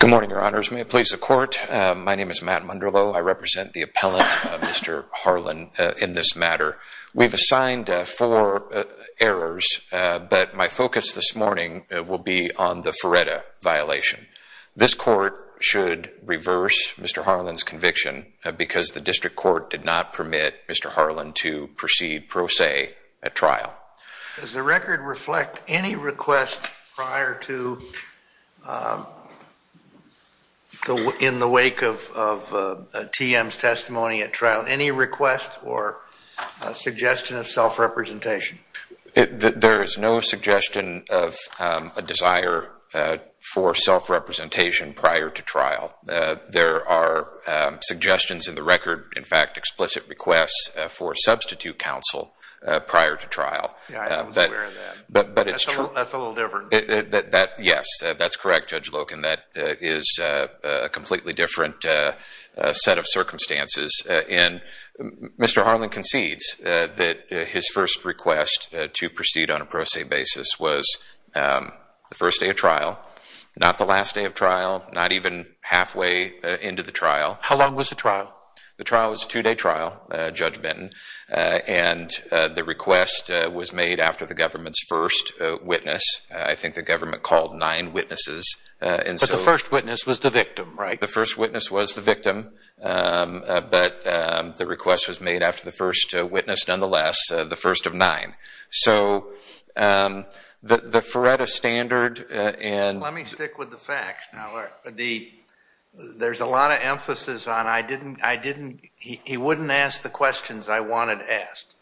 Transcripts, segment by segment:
Good morning, your honors. May it please the court, my name is Matt Munderloh. I represent the appellant, Mr. Harlan, in this matter. We've assigned four errors, but my focus this morning will be on the Feretta violation. This court should reverse Mr. Harlan's conviction because the district court did not permit Mr. Harlan to proceed pro se at trial. Does the record reflect any request prior to, in the wake of TM's testimony at trial, any request or suggestion of self-representation? There is no suggestion of a desire for self-representation prior to trial. There are suggestions in the record, in fact, explicit requests for substitute counsel prior to trial. Yeah, I was aware of that. That's a little different. Yes, that's correct, Judge Loken. That is a completely different set of circumstances. Mr. Harlan concedes that his first request to proceed on a pro se basis was the first day of trial, not the last day of trial, not even halfway into the trial. How long was the trial? The trial was a two-day trial, Judge Benton, and the request was made after the government's first witness. I think the government called nine witnesses. But the first witness was the victim, right? The first witness was the victim, but the request was made after the first witness nonetheless, the first of nine. So, the Feretta standard and... Let's stick with the facts now. There's a lot of emphasis on, he wouldn't ask the questions I wanted asked.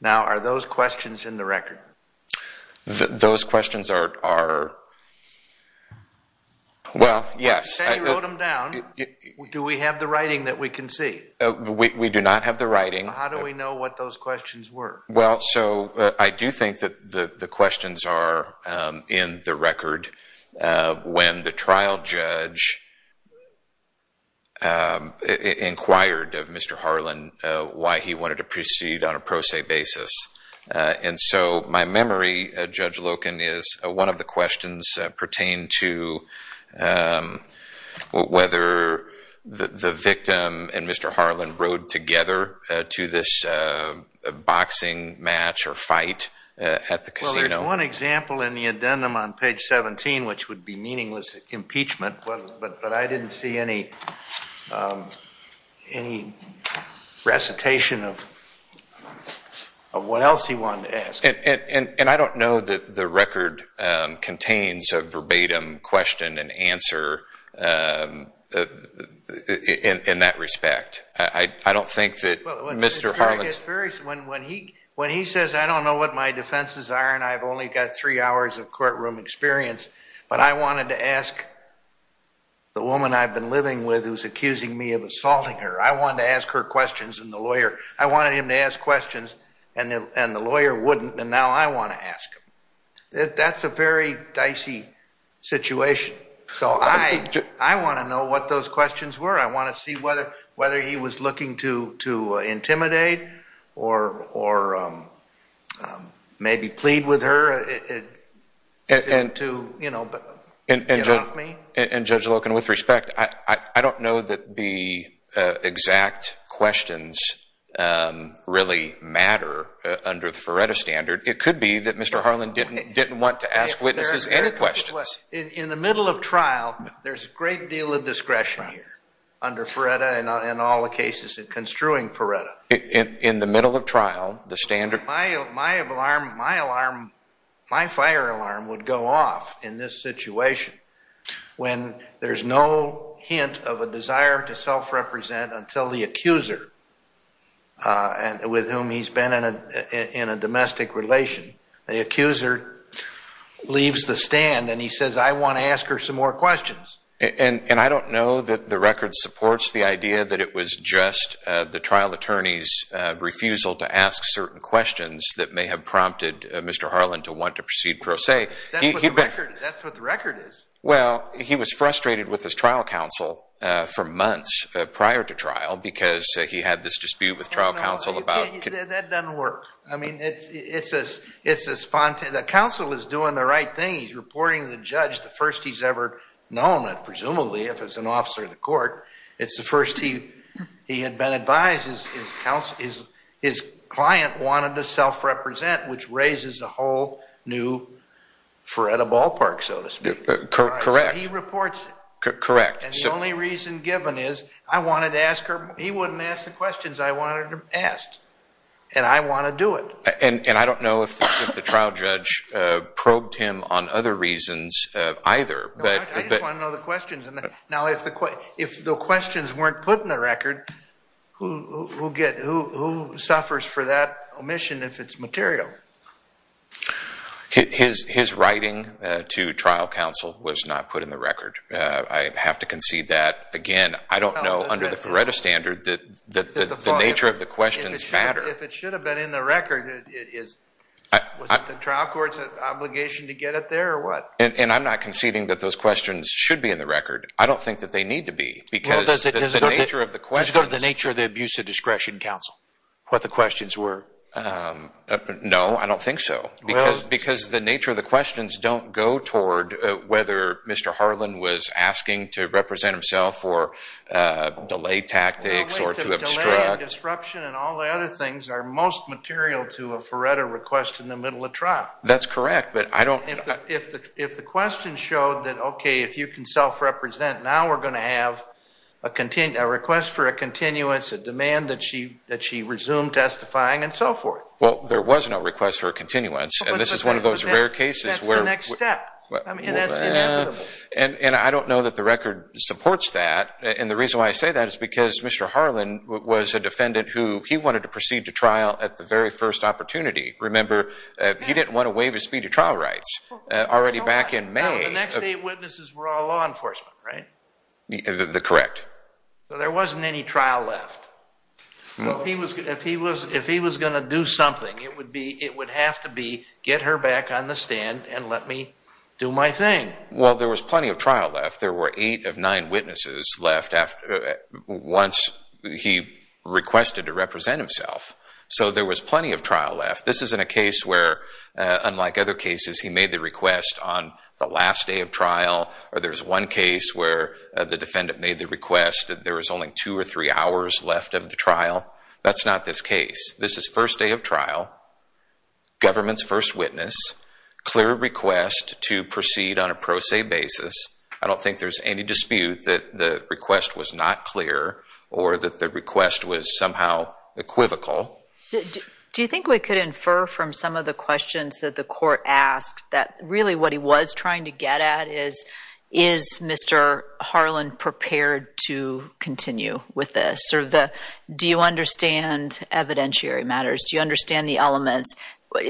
Now, are those questions in the record? Those questions are... Well, yes. You wrote them down. Do we have the writing that we can see? We do not have the writing. How do we know what those questions were? Well, so, I do think that the questions are in the record when the trial judge inquired of Mr. Harlan why he wanted to proceed on a pro se basis. And so, my memory, Judge Loken, is one of the questions pertained to whether the victim and Mr. Harlan rode together to this boxing match or fight at the casino. Well, there's one example in the addendum on page 17, which would be meaningless impeachment, but I didn't see any recitation of what else he wanted to ask. And I don't know that the record contains a verbatim question and answer in that respect. I don't think that Mr. Harlan... When he says, I don't know what my defenses are and I've only got three hours of courtroom experience, but I wanted to ask the woman I've been living with who's accusing me of assaulting her. I wanted to ask her questions and the lawyer, I wanted him to ask questions and the lawyer wouldn't, and now I want to ask them. That's a very dicey situation. So, I want to know what those questions were. I want to see whether he was looking to intimidate or maybe plead with her to get off me. And Judge Loken, with respect, I don't know that the exact questions really matter under the Feretta standard. It could be that Mr. Harlan didn't want to ask witnesses any questions. In the middle of trial, there's a great deal of discretion here under Feretta and all the cases in construing Feretta. In the middle of trial, the standard... My alarm, my fire alarm would go off in this situation when there's no hint of a desire to self-represent until the accuser with whom he's been in a domestic relation, the accuser leaves the stand and he says, I want to ask her some more questions. And I don't know that the record supports the idea that it was just the trial attorney's refusal to ask certain questions that may have prompted Mr. Harlan to want to proceed pro se. That's what the record is. Well, he was frustrated with his trial counsel for months prior to trial because he had this dispute with trial counsel about... Counsel is doing the right thing. He's reporting the judge, the first he's ever known, and presumably if it's an officer of the court, it's the first he had been advised his client wanted to self-represent, which raises a whole new Feretta ballpark, so to speak. Correct. He reports it. Correct. And the only reason given is, I wanted to ask her... He wouldn't ask the questions I wanted him asked. And I want to do it. And I don't know if the trial judge probed him on other reasons either, but... I just want to know the questions. Now, if the questions weren't put in the record, who suffers for that omission if it's material? His writing to trial counsel was not put in the record. I have to concede that, again, I don't know under the Feretta standard that the nature of the questions matter. If it should have been in the record, was it the trial court's obligation to get it there or what? And I'm not conceding that those questions should be in the record. I don't think that they need to be, because the nature of the questions... Has it got to do with the nature of the abuse of discretion, counsel, what the questions were? No, I don't think so. Because the nature of the questions don't go toward whether Mr. Harlan was asking to represent himself or delay tactics or to obstruct... Questions are most material to a Feretta request in the middle of trial. That's correct, but I don't... If the question showed that, okay, if you can self-represent, now we're going to have a request for a continuance, a demand that she resume testifying, and so forth. Well, there was no request for a continuance, and this is one of those rare cases where... That's the next step. I mean, that's inevitable. And I don't know that the record supports that, and the reason why I say that is because Mr. Harlan was a defendant who, he wanted to proceed to trial at the very first opportunity. Remember, he didn't want to waive his speedy trial rights. Already back in May... No, the next eight witnesses were all law enforcement, right? The correct. So there wasn't any trial left. If he was going to do something, it would have to be, get her back on the stand and let me do my thing. Well, there was plenty of trial left. There were eight of nine witnesses left once he requested to represent himself. So there was plenty of trial left. This isn't a case where, unlike other cases, he made the request on the last day of trial, or there's one case where the defendant made the request, there was only two or three hours left of the trial. That's not this case. This is first day of trial, government's first witness, clear request to proceed on a pro se basis. I don't think there's any dispute that the request was not clear or that the request was somehow equivocal. Do you think we could infer from some of the questions that the court asked that really what he was trying to get at is, is Mr. Harlan prepared to continue with this? Do you understand evidentiary matters? Do you understand the elements?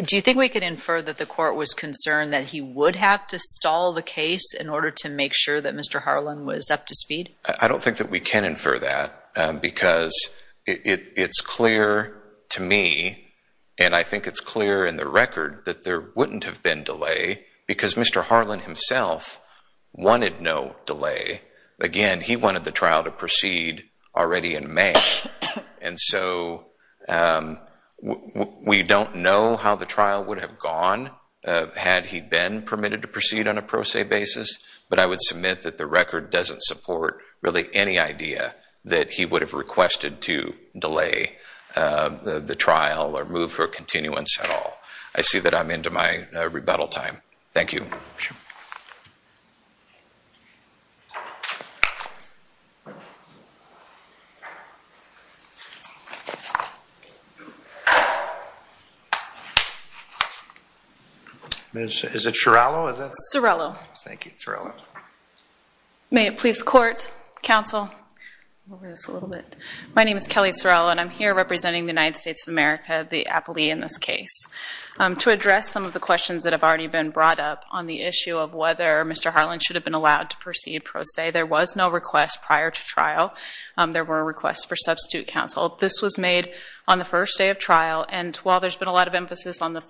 Do you think we could infer that the court was concerned that he would have to stall the case in order to make sure that Mr. Harlan was up to speed? I don't think that we can infer that because it's clear to me, and I think it's clear in the record, that there wouldn't have been delay because Mr. Harlan himself wanted no delay. Again, he wanted the trial to proceed already in May. And so we don't know how the trial would have gone had he been permitted to proceed on a pro se basis, but I would submit that the record doesn't support really any idea that he would have requested to delay the trial or move for a continuance at all. I see that I'm into my rebuttal time. Thank you. Sure. Is it Surello? Surello. Thank you, Surello. May it please the court, counsel? My name is Kelly Surello, and I'm here representing the United States of America, the appellee in this case. To address some of the questions that have already been brought up on the issue of whether Mr. Harlan should have been allowed to proceed pro se, there was no request prior to trial. There were requests for substitute counsel. This was made on the first day of trial, and while there's been a lot of emphasis on the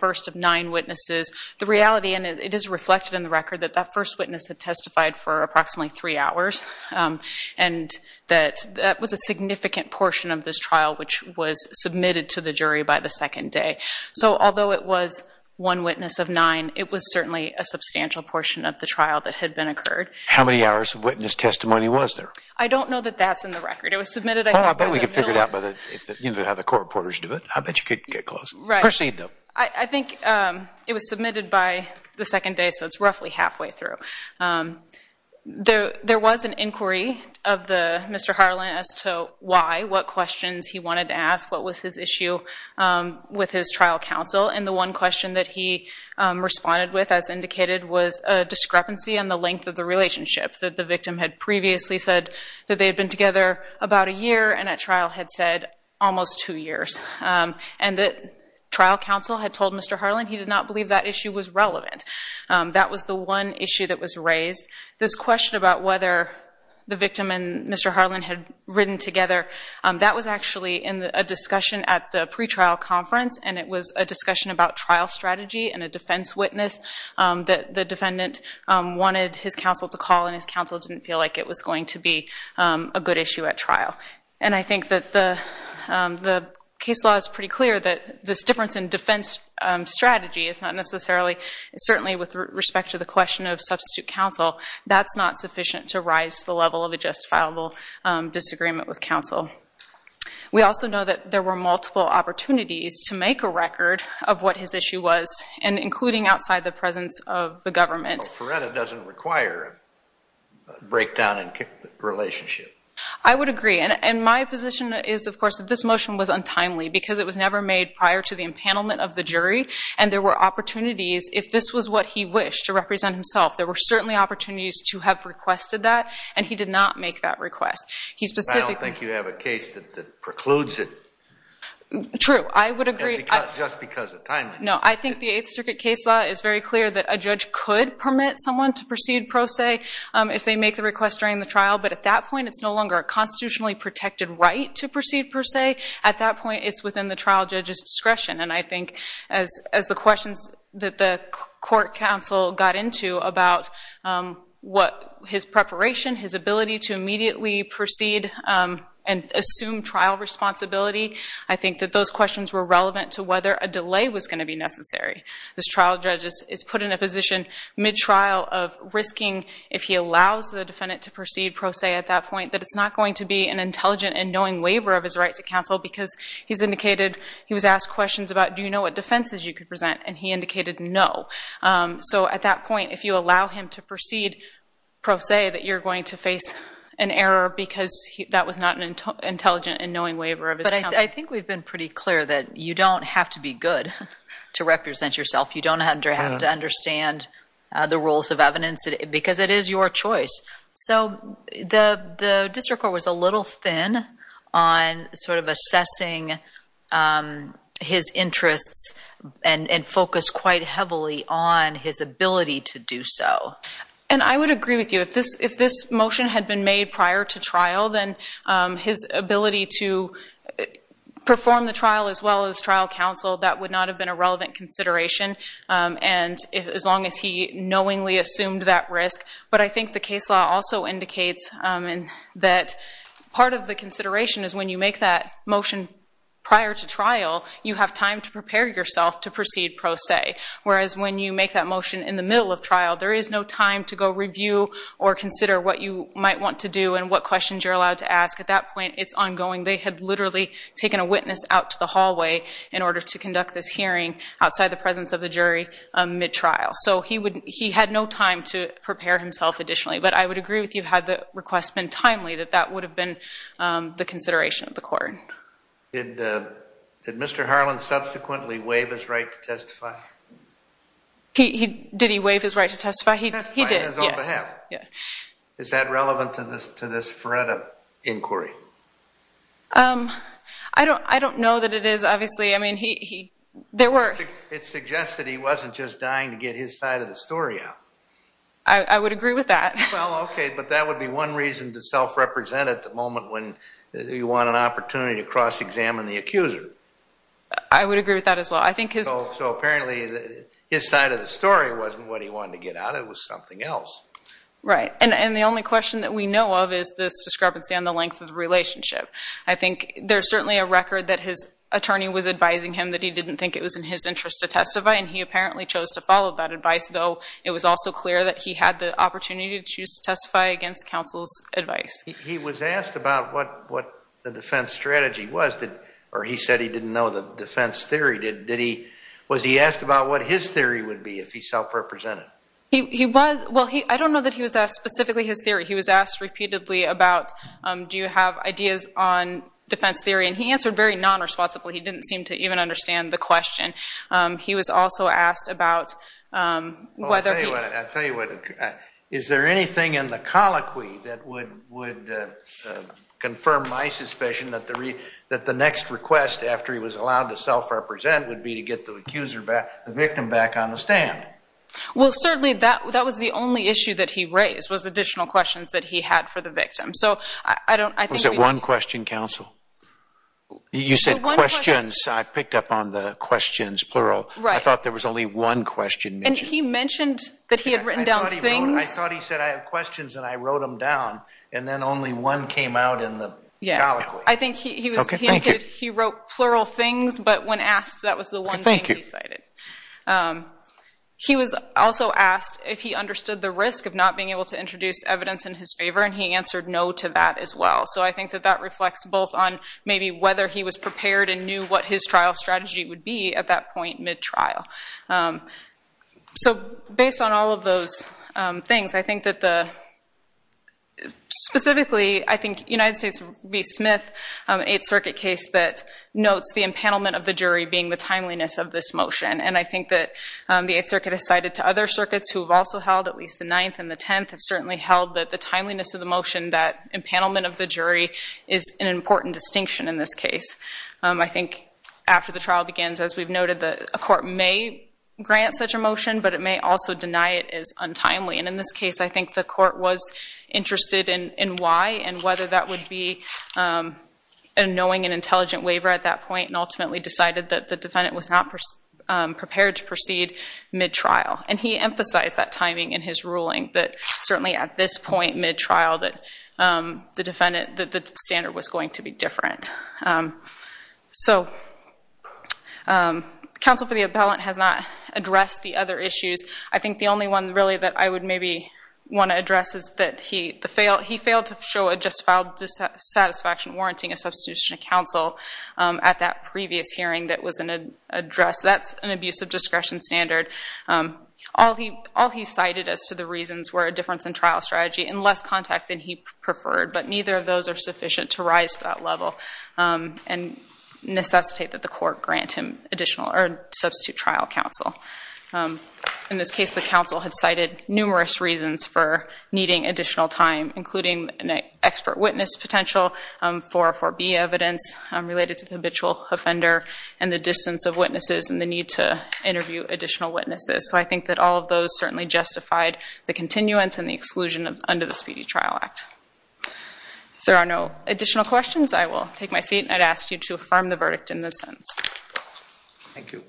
that first witness had testified for approximately three hours, and that was a significant portion of this trial, which was submitted to the jury by the second day. So although it was one witness of nine, it was certainly a substantial portion of the trial that had been occurred. How many hours of witness testimony was there? I don't know that that's in the record. It was submitted, I think, in the middle of... Well, I bet we could figure it out by the, you know, how the court reporters do it. I bet you could get close. Right. Proceed, though. I think it was submitted by the second day, so it's roughly halfway through. There was an inquiry of Mr. Harlan as to why, what questions he wanted to ask, what was his issue with his trial counsel. And the one question that he responded with, as indicated, was a discrepancy in the length of the relationship, that the victim had previously said that they had been together about a year, and at trial had said almost two years. And the trial counsel had told Mr. Harlan he did not believe that issue was relevant. That was the one issue that was raised. This question about whether the victim and Mr. Harlan had ridden together, that was actually in a discussion at the pretrial conference, and it was a discussion about trial strategy and a defense witness that the defendant wanted his counsel to call, and his counsel didn't feel like it was going to be a good issue at trial. And I think that the case law is pretty clear that this difference in defense strategy is not necessarily, certainly with respect to the question of substitute counsel, that's not sufficient to rise to the level of a justifiable disagreement with counsel. We also know that there were multiple opportunities to make a record of what his issue was, and including outside the presence of the government. Well, Feretta doesn't require a breakdown in relationship. I would agree. And my position is, of course, that this motion was untimely because it was never made prior to the empanelment of the jury, and there were opportunities, if this was what he wished to represent himself, there were certainly opportunities to have requested that, and he did not make that request. He specifically... I don't think you have a case that precludes it. True. I would agree. Just because of timeliness. No, I think the Eighth Circuit case law is very clear that a judge could permit someone to proceed pro se if they make the request during the trial, but at that point, it's no longer a constitutionally protected right to proceed pro se. At that point, it's within the trial judge's discretion, and I think, as the questions that the court counsel got into about what his preparation, his ability to immediately proceed and assume trial responsibility, I think that those questions were relevant to whether a delay was going to be necessary. This trial judge is put in a position, mid-trial, of risking, if he allows the defendant to proceed pro se at that point, that it's not going to be an intelligent and knowing waiver of his right to counsel because he was asked questions about, do you know what defenses you could present? And he indicated no. So at that point, if you allow him to proceed pro se, that you're going to face an error because that was not an intelligent and knowing waiver of his counsel. I think we've been pretty clear that you don't have to be good to represent yourself. You don't have to understand the rules of evidence because it is your choice. So the district court was a little thin on assessing his interests and focused quite heavily on his ability to do so. And I would agree with you. If this motion had been made prior to trial, then his ability to perform the trial as well as trial counsel, that would not have been a relevant consideration as long as he knowingly assumed that risk. But I think the case law also indicates that part of the consideration is when you make that motion prior to trial, you have time to prepare yourself to proceed pro se. Whereas when you make that motion in the middle of trial, there is no time to go review or consider what you might want to do and what questions you're allowed to ask. At that point, it's ongoing. They had literally taken a witness out to the hallway in order to conduct this hearing outside the presence of the jury mid-trial. So he had no time to prepare himself additionally. But I would agree with you had the request been timely that that would have been the consideration of the court. Did Mr. Harlan subsequently waive his right to testify? Did he waive his right to testify? He did. Yes. On his own behalf? Yes. Is that relevant to this Feretta inquiry? I don't know that it is, obviously. I mean, there were... It suggests that he wasn't just dying to get his side of the story out. I would agree with that. Well, okay, but that would be one reason to self-represent at the moment when you want an opportunity to cross-examine the accuser. I would agree with that as well. I think his... So apparently, his side of the story wasn't what he wanted to get out. It was something else. Right. And the only question that we know of is this discrepancy on the length of the relationship. I think there's certainly a record that his attorney was advising him that he didn't think it was in his interest to testify, and he apparently chose to follow that advice, though it was also clear that he had the opportunity to choose to testify against counsel's advice. He was asked about what the defense strategy was. Or he said he didn't know the defense theory. Was he asked about what his theory would be if he self-represented? He was. Well, I don't know that he was asked specifically his theory. He was asked repeatedly about, do you have ideas on defense theory, and he answered very non-responsibly. He didn't seem to even understand the question. He was also asked about whether he... I'll tell you what. Is there anything in the colloquy that would confirm my suspicion that the next request after he was allowed to self-represent would be to get the victim back on the stand? Well, certainly that was the only issue that he raised, was additional questions that he had for the victim. So I don't... Was it one question, counsel? You said questions. I picked up on the questions, plural. I thought there was only one question mentioned. And he mentioned that he had written down things. I thought he said, I have questions, and I wrote them down, and then only one came out in the colloquy. Yeah. I think he wrote plural things, but when asked, that was the one thing he cited. He was also asked if he understood the risk of not being able to introduce evidence in his favor, and he answered no to that as well. So I think that that reflects both on maybe whether he was prepared and knew what his trial strategy would be at that point mid-trial. So based on all of those things, I think that the... Specifically, I think United States v. Smith, an Eighth Circuit case that notes the empanelment of the jury being the timeliness of this motion, and I think that the Eighth Circuit has cited to other circuits who have also held, at least the Ninth and the Tenth, have certainly held that the timeliness of the motion, that empanelment of the jury, is an important distinction in this case. I think after the trial begins, as we've noted, a court may grant such a motion, but it may also deny it as untimely, and in this case, I think the court was interested in why and whether that would be a knowing and intelligent waiver at that point, and ultimately decided that the defendant was not prepared to proceed mid-trial, and he emphasized that timing in his ruling, that certainly at this point mid-trial, that the defendant, that the standard was going to be different. So counsel for the appellant has not addressed the other issues. I think the only one really that I would maybe want to address is that he failed to show a justified dissatisfaction warranting a substitution of counsel at that previous hearing that was an address. That's an abuse of discretion standard. All he cited as to the reasons were a difference in trial strategy and less contact than he preferred, but neither of those are sufficient to rise to that level and necessitate that the court grant him additional, or substitute trial counsel. In this case, the counsel had cited numerous reasons for needing additional time, including an expert witness potential, 404B evidence related to the habitual offender, and the distance of witnesses, and the need to interview additional witnesses. So I think that all of those certainly justified the continuance and the exclusion under the Speedy Trial Act. If there are no additional questions, I will take my seat, and I'd ask you to affirm the verdict in this sentence. Thank you.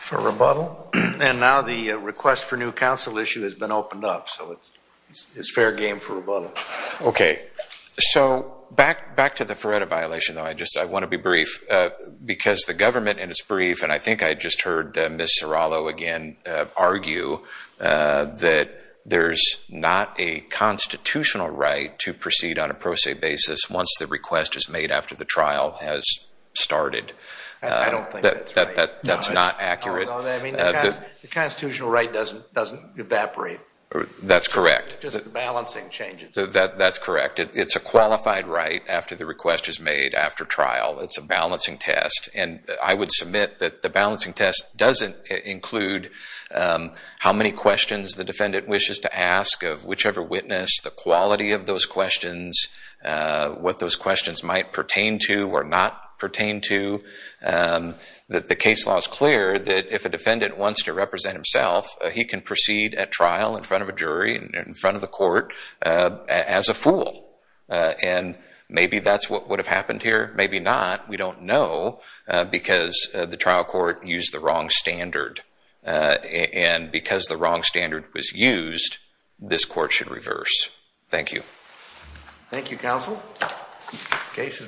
For rebuttal. And now the request for new counsel issue has been opened up, so it's fair game for rebuttal. Okay. So back to the Feretta violation, though, I want to be brief, because the government in its brief, and I think I just heard Ms. Serrallo again argue that there's not a constitutional right to proceed on a pro se basis once the request is made after the trial has started. I don't think that's right. That's not accurate. I mean, the constitutional right doesn't evaporate. That's correct. Just the balancing changes. That's correct. It's a qualified right after the request is made after trial. It's a balancing test. And I would submit that the balancing test doesn't include how many questions the defendant wishes to ask of whichever witness, the quality of those questions, what those questions might pertain to or not pertain to. The case law is clear that if a defendant wants to represent himself, he can proceed at trial in front of a jury, in front of the court, as a fool. And maybe that's what would have happened here. Maybe not. We don't know, because the trial court used the wrong standard. And because the wrong standard was used, this court should reverse. Thank you. Thank you, counsel. Thank you, counsel.